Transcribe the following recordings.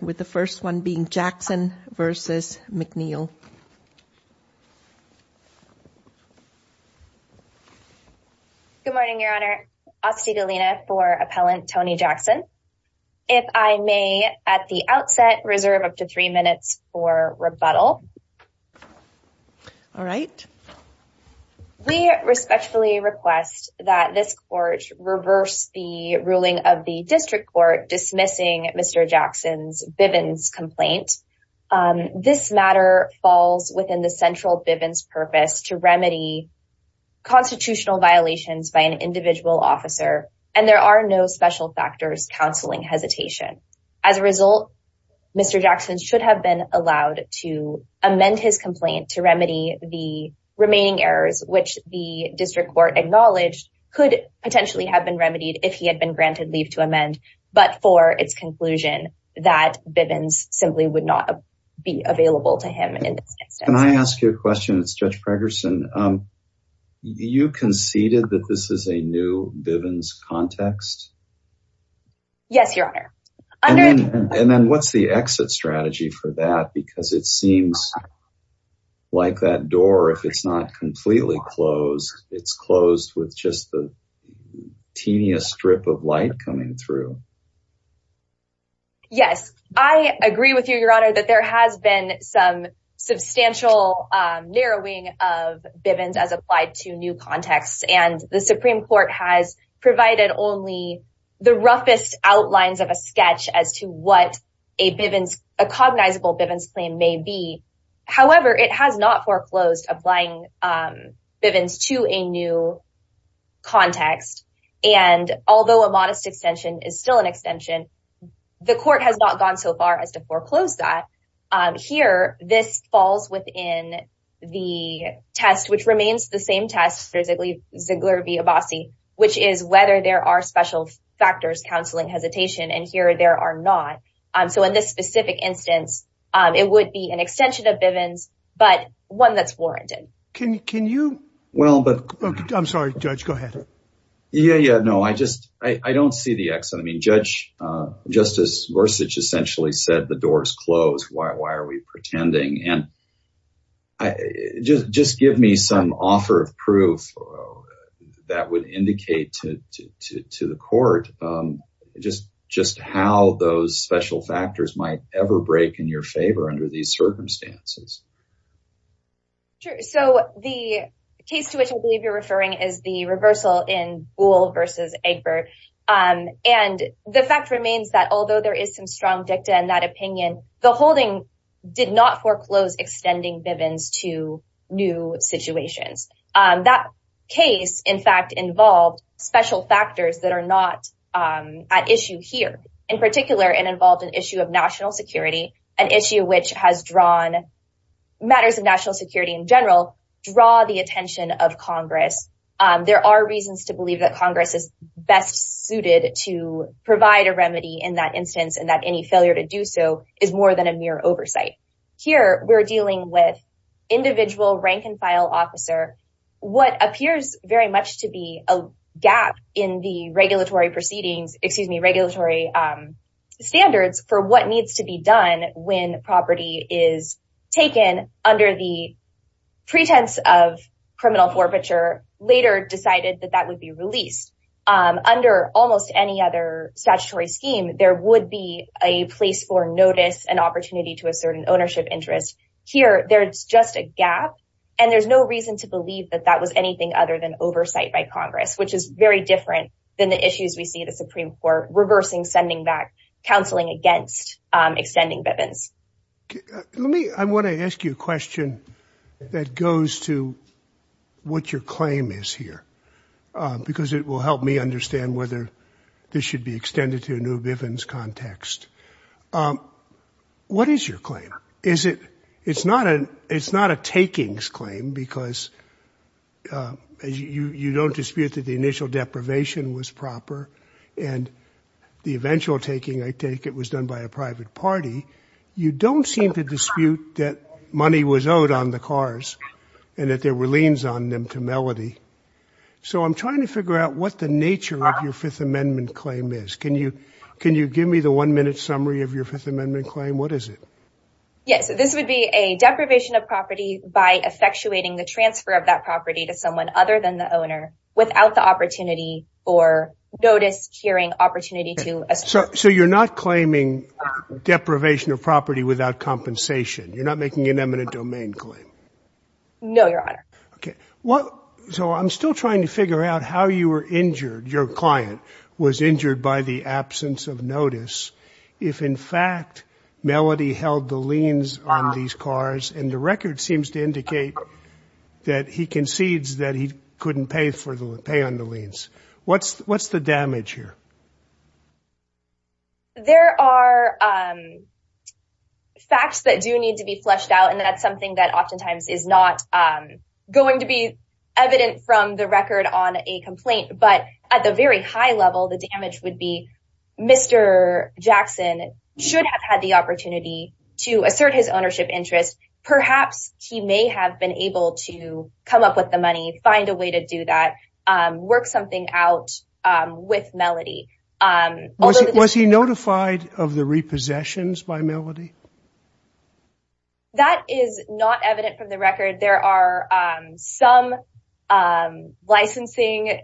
with the first one being Jackson v. McNeil. Good morning, Your Honor. Aussie Delina for Appellant Tony Jackson. If I may at the outset reserve up to three minutes for rebuttal. All right. We respectfully request that this court reverse the ruling of the District Court dismissing Mr. Jackson's Bivens complaint. This matter falls within the central Bivens purpose to remedy constitutional violations by an individual officer and there are no special factors counseling hesitation. As a result, Mr. Jackson should have been allowed to amend his complaint to remedy the remaining errors, which the District Court acknowledged could potentially have been remedied if he had been granted leave to amend but for its conclusion that Bivens simply would not be available to him in this instance. Can I ask you a question? It's Judge Pregerson. You conceded that this is a new Bivens context? Yes, Your Honor. And then what's the exit strategy for that because it seems like that door if it's not completely closed, it's closed with just the strip of light coming through. Yes, I agree with you, Your Honor, that there has been some substantial narrowing of Bivens as applied to new contexts and the Supreme Court has provided only the roughest outlines of a sketch as to what a Bivens, a cognizable Bivens claim may be. However, it has not foreclosed applying Bivens to a new context and although a modest extension is still an extension, the court has not gone so far as to foreclose that. Here, this falls within the test which remains the same test for Ziegler v. Abbasi, which is whether there are special factors counseling hesitation and here there are not. So in this specific instance, it would be an extension of Bivens, but one that's warranted. Can you? Well, but I'm sorry, Judge. Go ahead. Yeah. Yeah. No, I just I don't see the exit. I mean, Judge, Justice Gorsuch essentially said the doors closed. Why are we pretending? And just give me some offer of proof that would indicate to the court just how those special factors might ever break in your favor under these circumstances. Sure. So the case to which I believe you're referring is the reversal in Buhl v. Egbert and the fact remains that although there is some strong dicta in that opinion, the holding did not foreclose extending Bivens to new situations. That case in fact involved special factors that are not at issue here in particular and involved an issue of national security an issue which has drawn matters of national security in general draw the attention of Congress. There are reasons to believe that Congress is best suited to provide a remedy in that instance and that any failure to do so is more than a mere oversight here. We're dealing with individual rank-and-file officer. What appears very much to be a gap in the regulatory proceedings, excuse me, regulatory standards for what needs to be done when property is taken under the pretense of criminal forfeiture later decided that that would be released under almost any other statutory scheme. There would be a place for notice an opportunity to assert an ownership interest here. There's just a gap and there's no reason to believe that that was anything other than oversight by Congress, which is very different than the issues. We see the Supreme Court reversing sending back counseling against extending Bivens. Let me I want to ask you a question that goes to what your claim is here because it will help me understand whether this should be extended to a new Bivens context. What is your claim? Is it it's not an it's not a takings claim because you you don't dispute that the initial deprivation was proper and the eventual taking I take it was done by a private party. You don't seem to dispute that money was owed on the cars and that there were liens on them to Melody. So I'm trying to figure out what the nature of your Fifth Amendment claim is. Can you can you give me the one-minute summary of your Fifth Amendment claim? What is it? Yes. This would be a deprivation of property by effectuating the transfer of that property to someone other than the owner without the opportunity for notice hearing opportunity to assert. So you're not claiming deprivation of property without compensation. You're not making an eminent domain claim. No, your Honor. Okay. What so I'm still trying to figure out how you were injured your client was injured by the absence of notice. If in fact Melody held the liens on these cars and the record seems to indicate that he concedes that he couldn't pay for the pay on the liens. What's what's the damage here? There are facts that do need to be fleshed out. And that's something that oftentimes is not going to be evident from the record on a complaint. But at the very high level the damage would be Mr. Jackson should have had the opportunity to assert his ownership interest. Perhaps he may have been able to come up with the money find a way to do that work something out with Melody was he notified of the repossessions by Melody? That is not evident from the record. There are some licensing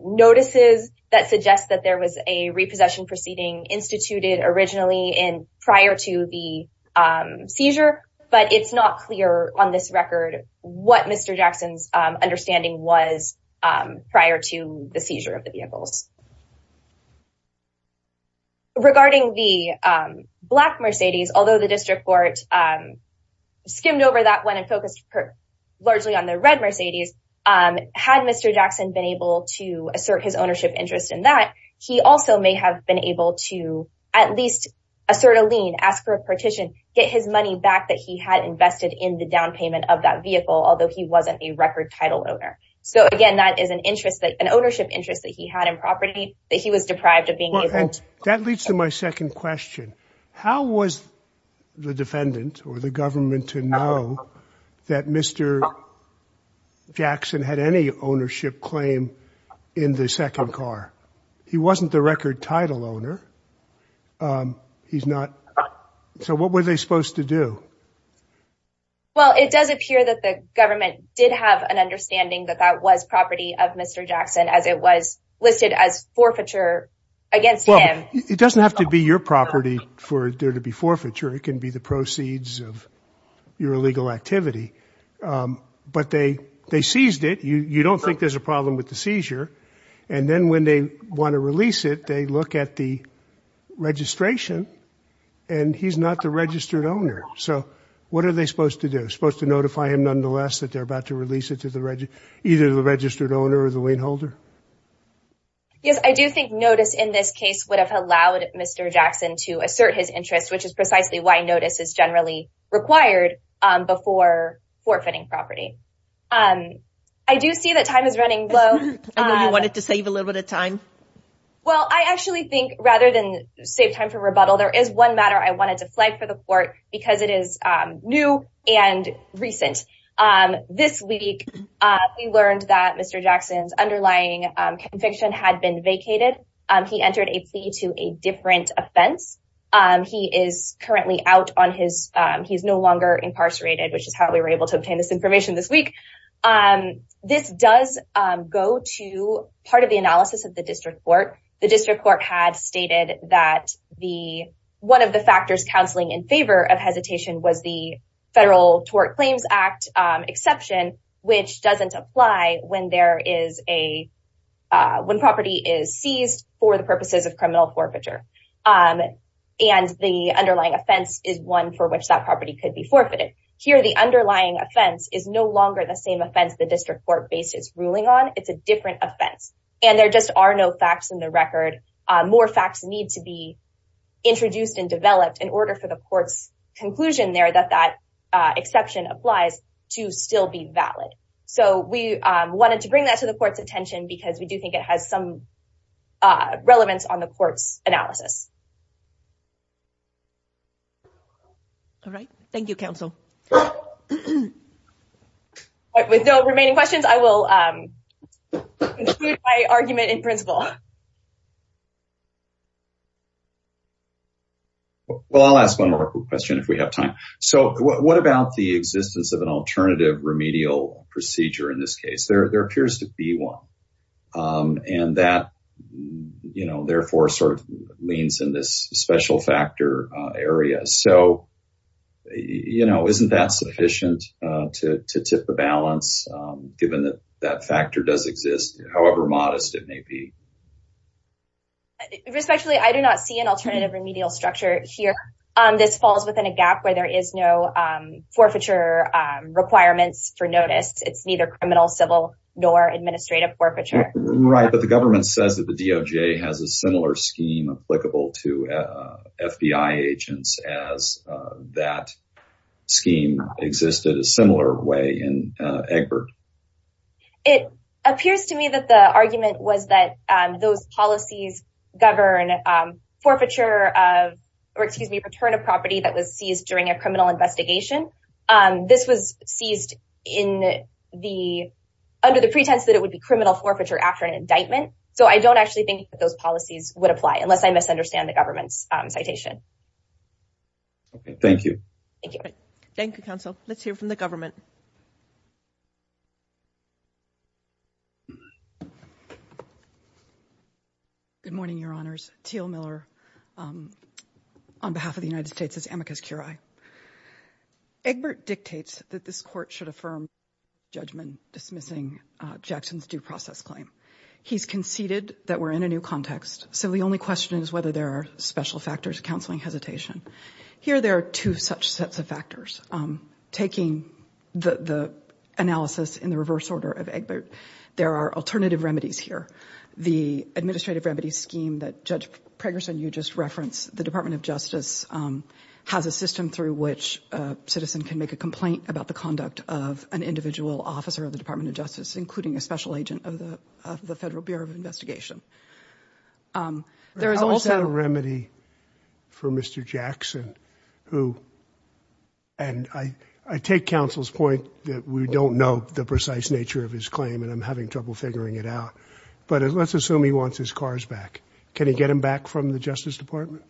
notices that suggest that there was a repossession proceeding instituted originally in prior to the seizure, but it's not clear on this record what Mr. Jackson's understanding was prior to the seizure of the vehicles. Regarding the black Mercedes, although the district court skimmed over that one and focused largely on the red Mercedes had Mr. Jackson been able to assert his ownership interest in that he also may have been able to at least assert a lien ask for a partition get his money back that he had invested in the down payment of that vehicle. Although he wasn't a record title owner. So again, that is an interest that an ownership interest that he had in property that he was deprived of being able to that leads to my second question. How was the defendant or the government to know that Mr. Jackson had any ownership claim in the second car. He wasn't the record title owner. He's not so what were they supposed to do? Well, it does appear that the government did have an understanding that that was property of Mr. Jackson as it was listed as forfeiture against him. It doesn't have to be your property for there to be forfeiture. It can be the proceeds of your illegal activity, but they they seized it. You don't think there's a problem with the seizure and then when they want to release it, they look at the registration and he's not the registered owner. So what are they supposed to do supposed to notify him nonetheless that they're about to release it to the register either the registered owner or the wain holder. Yes, I do think notice in this case would have allowed Mr. Jackson to assert his interest which is precisely why notice is generally required before forfeiting property. I do see that time is running low. You wanted to save a little bit of time. Well, I actually think rather than save time for rebuttal there is one matter. I wanted to flag for the court because it is new and recent this week. We learned that Mr. Jackson's underlying conviction had been vacated. He entered a plea to a different offense. He is currently out on his he's no longer incarcerated, which is how we were able to obtain this information this week. This does go to part of the analysis of the District Court. The District Court had stated that the one of the factors counseling in favor of hesitation was the federal Tort Claims Act exception which doesn't apply when there is a when property is seized for the purposes of criminal forfeiture and the underlying offense is one for which that property could be forfeited. Here. The underlying offense is no longer the same offense. The District Court basis ruling on it's a different offense and there just are no facts in the record more facts need to be introduced and developed in order for the courts conclusion there that that exception applies to still be valid. So we wanted to bring that to the court's attention because we do think it has some relevance on the court's analysis. All right. Thank you counsel. With no remaining questions. I will my argument in principle. Well, I'll ask one more question if we have time. So what about the existence of an alternative remedial procedure in this case? There appears to be one and that you know, therefore sort of leans in this special factor area. So, you know, isn't that sufficient to tip the balance given that that factor does exist. However, modest it may be. Respectfully. I do not see an alternative remedial structure here. This falls within a gap where there is no forfeiture requirements for notice. It's neither criminal civil nor administrative forfeiture. Right, but the government says that the DOJ has a similar scheme applicable to FBI agents as that scheme existed a similar way in Egbert. It appears to me that the argument was that those policies govern forfeiture of or excuse me, return of property that was seized during a criminal investigation. This was seized in the under the pretense that it would be criminal forfeiture after an indictment. So I don't actually think that those policies would apply unless I misunderstand the government's citation. Thank you. Thank you. Thank you counsel. Let's hear from the government. Good morning, your honors Teal Miller. On behalf of the United States as amicus curiae. Egbert dictates that this court should affirm judgment dismissing Jackson's due process claim. He's conceded that we're in a new context. So the only question is whether there are special factors counseling hesitation. Here. There are two such sets of factors taking the analysis in the reverse order of Egbert. There are alternative remedies here. The administrative remedy scheme that Judge Pregerson you just reference the Department of Justice has a system through which citizen can make a complaint about the conduct of an individual officer of the Department of Justice, including a special agent of the the Federal Bureau of Investigation. There is also a remedy for Mr. Jackson who and I take counsel's point that we don't know the precise nature of his claim and I'm having trouble figuring it out. But let's assume he wants his cars back. Can he get him back from the Justice Department?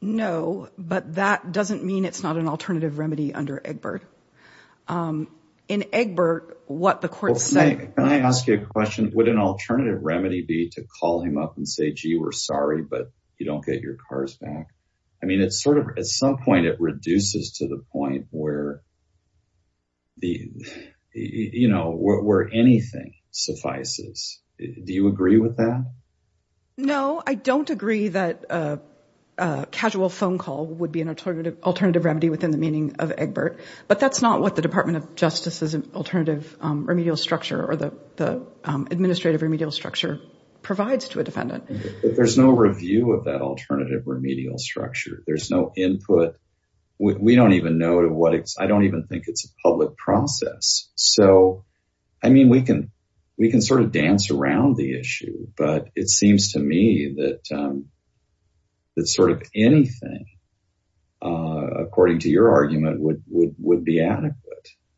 No, but that doesn't mean it's not an alternative remedy under Egbert. In Egbert, what the court said. Can I ask you a question? Would an alternative remedy be to call him up and say, gee, we're sorry, but you don't get your cars back. I mean, it's sort of at some point it reduces to the point where the you know, where anything suffices. Do you agree with that? No, I don't agree that casual phone call would be an alternative alternative remedy within the meaning of Egbert, but that's not what the Department of Justice is an alternative remedial structure or the administrative remedial structure provides to a defendant. There's no review of that alternative remedial structure. There's no input. We don't even know to what it's I don't even think it's a public process. So, I mean we can we can sort of dance around the issue, but it seems to me that sort of anything according to your argument would be adequate.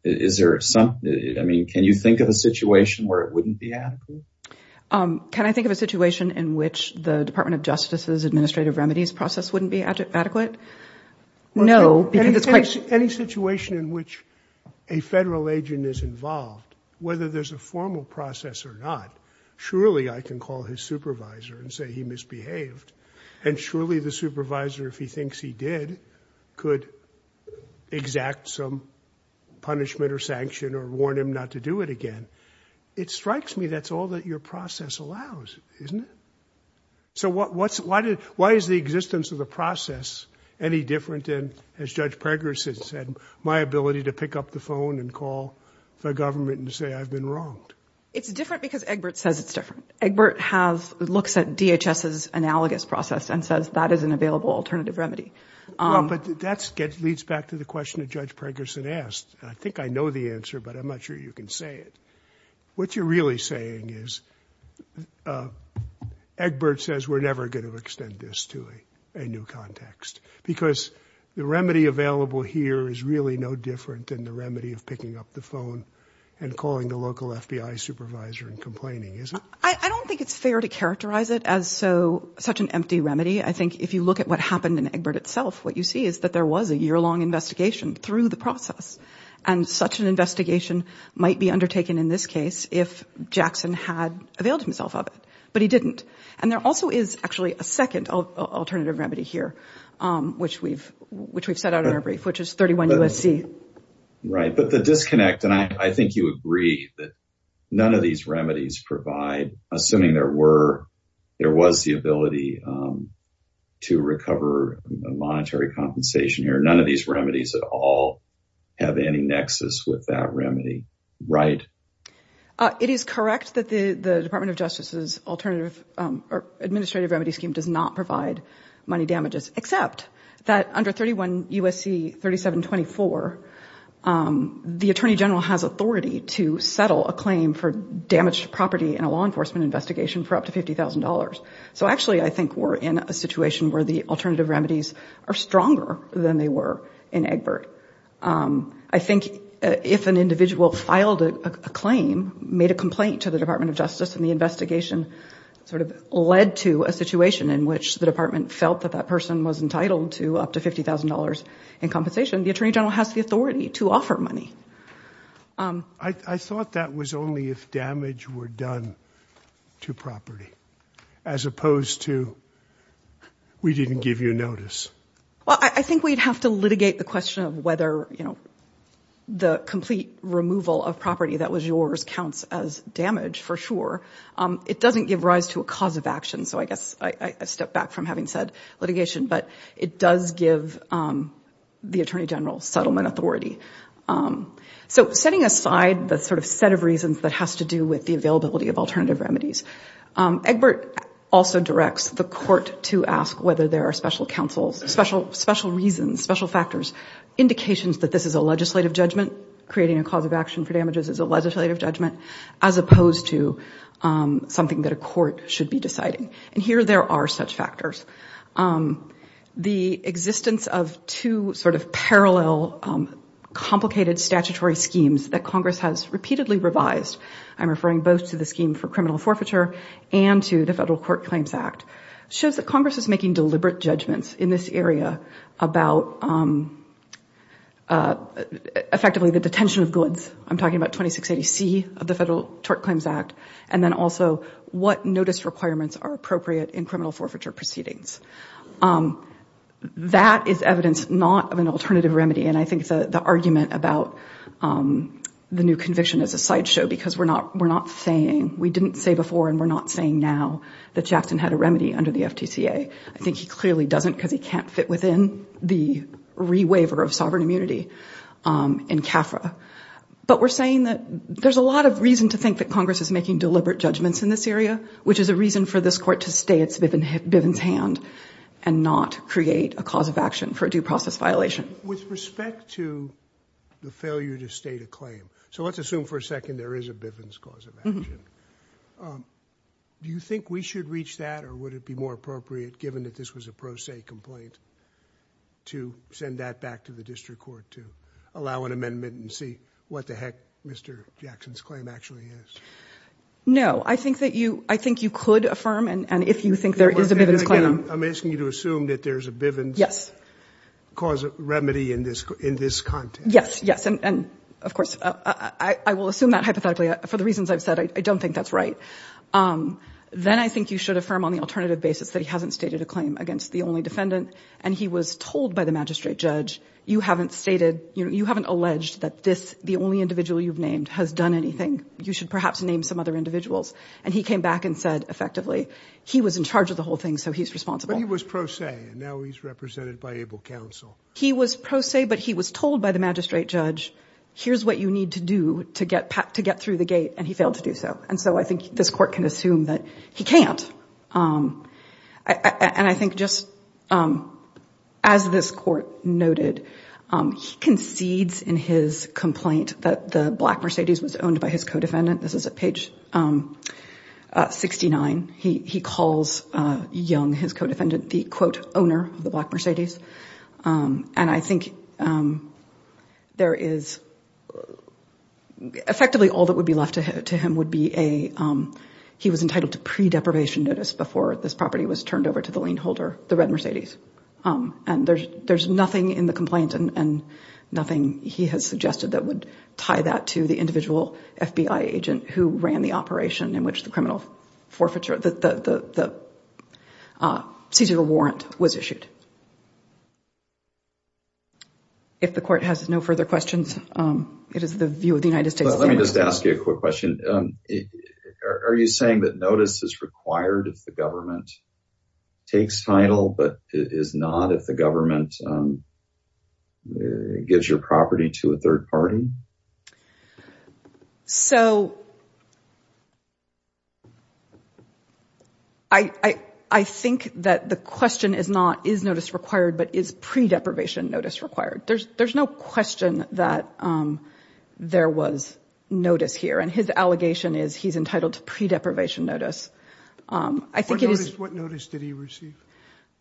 Is there some, I mean, can you think of a situation where it wouldn't be adequate? Can I think of a situation in which the Department of Justice's administrative remedies process wouldn't be adequate? No. Any situation in which a federal agent is involved, whether there's a formal process or not, surely I can call his supervisor and say he misbehaved and surely the supervisor, if he thinks he did, could exact some punishment or sanction or warn him not to do it again. It strikes me. That's all that your process allows, isn't it? So what's, why did, why is the existence of the process any different than, as Judge Preggers has said, my ability to pick up the phone and call the government and say I've been wronged? It's different because Egbert says it's different. Egbert have, looks at DHS's analogous process and says that is an available alternative remedy. But that's, that leads back to the question that Judge Preggerson asked. I think I know the answer, but I'm not sure you can say it. What you're really saying is Egbert says we're never going to extend this to a new context because the remedy available here is really no different than the remedy of picking up the phone and calling the local FBI supervisor and complaining, is it? I don't think it's fair to characterize it as so, such an empty remedy. I think if you look at what happened in Egbert itself, what you see is that there was a year-long investigation through the process and such an investigation might be undertaken in this case if Jackson had availed himself of it, but he didn't. And there also is actually a second alternative remedy here, which we've, which we've set out in our brief, which is 31 USC. Right. But the disconnect, and I think you agree that none of these remedies provide, assuming there were, there was the ability to recover monetary compensation here. None of these remedies at all have any nexus with that remedy, right? It is correct that the Department of Justice's alternative administrative remedy scheme does not provide money damages, except that under 31 USC 3724, the Attorney General has authority to settle a claim for damaged property in a law enforcement investigation for up to $50,000. So actually, I think we're in a situation where the alternative remedies are stronger than they were in Egbert. I think if an individual filed a claim, made a complaint to the Department of Justice and the investigation sort of led to a situation in which the department felt that that person was entitled to up to $50,000 in compensation, the Attorney General has the authority to offer money. I thought that was only if damage were done to property, as opposed to we didn't give you notice. Well, I think we'd have to litigate the question of whether, you know, the complete removal of property that was yours counts as damage for sure. It doesn't give rise to a cause of action. So I guess I step back from having said litigation, but it does give the Attorney General settlement authority. So setting aside the sort of set of reasons that has to do with the availability of alternative remedies, Egbert also directs the court to ask whether there are special counsels, special reasons, special factors, indications that this is a legislative judgment. Creating a cause of action for damages is a legislative judgment, as opposed to something that a court should be deciding. And here there are such factors. The existence of two sort of parallel complicated statutory schemes that Congress has repeatedly revised, I'm referring both to the scheme for criminal forfeiture and to the Federal Court Claims Act, shows that Congress is making deliberate judgments in this area about I'm talking about 2680C of the Federal Tort Claims Act, and then also what notice requirements are appropriate in criminal forfeiture proceedings. That is evidence not of an alternative remedy, and I think the argument about the new conviction is a sideshow because we're not saying, we didn't say before and we're not saying now, that Jackson had a remedy under the FTCA. I think he clearly doesn't because he can't fit within the re-waiver of sovereign immunity in CAFRA. But we're saying that there's a lot of reason to think that he's making deliberate judgments in this area, which is a reason for this court to stay at Bivens' hand and not create a cause of action for a due process violation. With respect to the failure to state a claim, so let's assume for a second there is a Bivens cause of action. Do you think we should reach that or would it be more appropriate given that this was a pro se complaint to send that back to the District Court to allow an amendment and see what the heck Mr. Jackson's claim actually is? No, I think that you, I think you could affirm and if you think there is a Bivens claim. I'm asking you to assume that there's a Bivens Yes. cause of remedy in this, in this context. Yes. Yes. And of course, I will assume that hypothetically for the reasons I've said, I don't think that's right. Then I think you should affirm on the alternative basis that he hasn't stated a claim against the only defendant and he was told by the magistrate judge, you haven't stated, you haven't alleged that this, the only individual you've named has done anything. You should perhaps name some other individuals and he came back and said effectively, he was in charge of the whole thing. So he's responsible. He was pro se and now he's represented by able counsel. He was pro se but he was told by the magistrate judge. Here's what you need to do to get, to get through the gate and he failed to do so. And so I think this court can assume that he can't. And I think just as this court noted, he concedes in his complaint that the black Mercedes was owned by his co-defendant. This is at page 69. He calls Young, his co-defendant, the quote owner of the black Mercedes. And I think there is effectively all that would be left to him would be a, he was entitled to pre-deprivation notice before this property was turned over to the lien holder, the red Mercedes. And there's nothing in the complaint and nothing he has to do with the FBI agent who ran the operation in which the criminal forfeiture, the seizure warrant was issued. If the court has no further questions, it is the view of the United States. Let me just ask you a quick question. Are you saying that notice is required if the government takes title, but it is not if the government gives your property to a third party? So I think that the question is not, is notice required, but is pre-deprivation notice required? There's no question that there was notice here and his allegation is he's entitled to pre-deprivation notice. I think it is. What notice did he receive?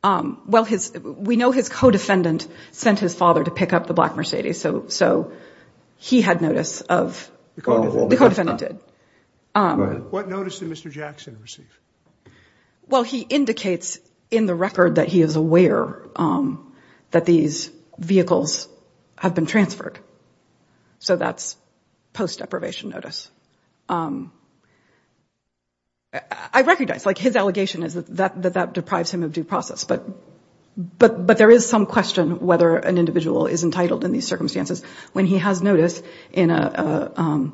Well, his, we know his co-defendant sent his father to pick up the black Mercedes. So, so he had notice of the co-defendant did. What notice did Mr. Jackson receive? Well, he indicates in the record that he is aware that these vehicles have been transferred. So that's post-deprivation notice. I recognize like his allegation is that that deprives him of due process, but but, but there is some question whether an individual is entitled in these circumstances when he has notice in a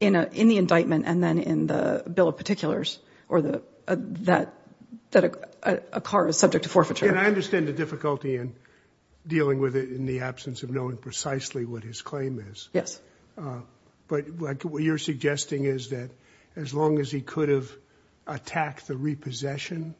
in a, in the indictment and then in the Bill of Particulars or the, that, that a car is subject to forfeiture. And I understand the difficulty in dealing with it in the absence of knowing precisely what his claim is. Yes. But what you're suggesting is that as long as he could have attacked the repossession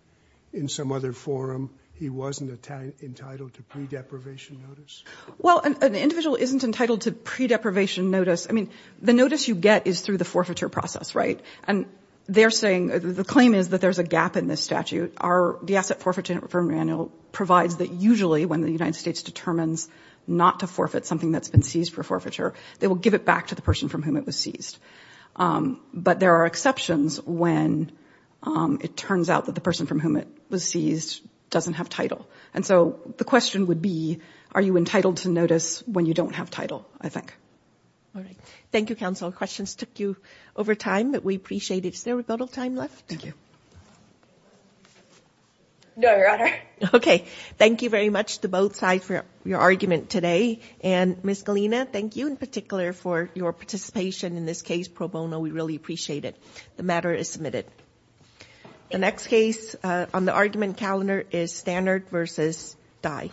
in some other forum, he wasn't entitled to pre-deprivation notice? Well, an individual isn't entitled to pre-deprivation notice. I mean, the notice you get is through the forfeiture process, right? And they're saying, the claim is that there's a gap in this statute. Our, the Asset Forfeiture Reform Manual provides that usually when the United States determines not to forfeit something that's been seized for forfeiture, they will give it back to the person from whom it was seized. But there are exceptions when it turns out that the person from whom it was seized doesn't have title. And so the question would be, are you entitled to notice when you don't have title? I think. All right. Thank you, Counsel. Questions took you over time, but we appreciate it. Is there a little time left? Thank you. No, Your Honor. Okay. Thank you very much to both sides for your argument today. And Ms. Galina, thank you in particular for your participation in this case pro bono. We really appreciate it. The matter is submitted. The next case on the argument calendar is Standard versus Dye.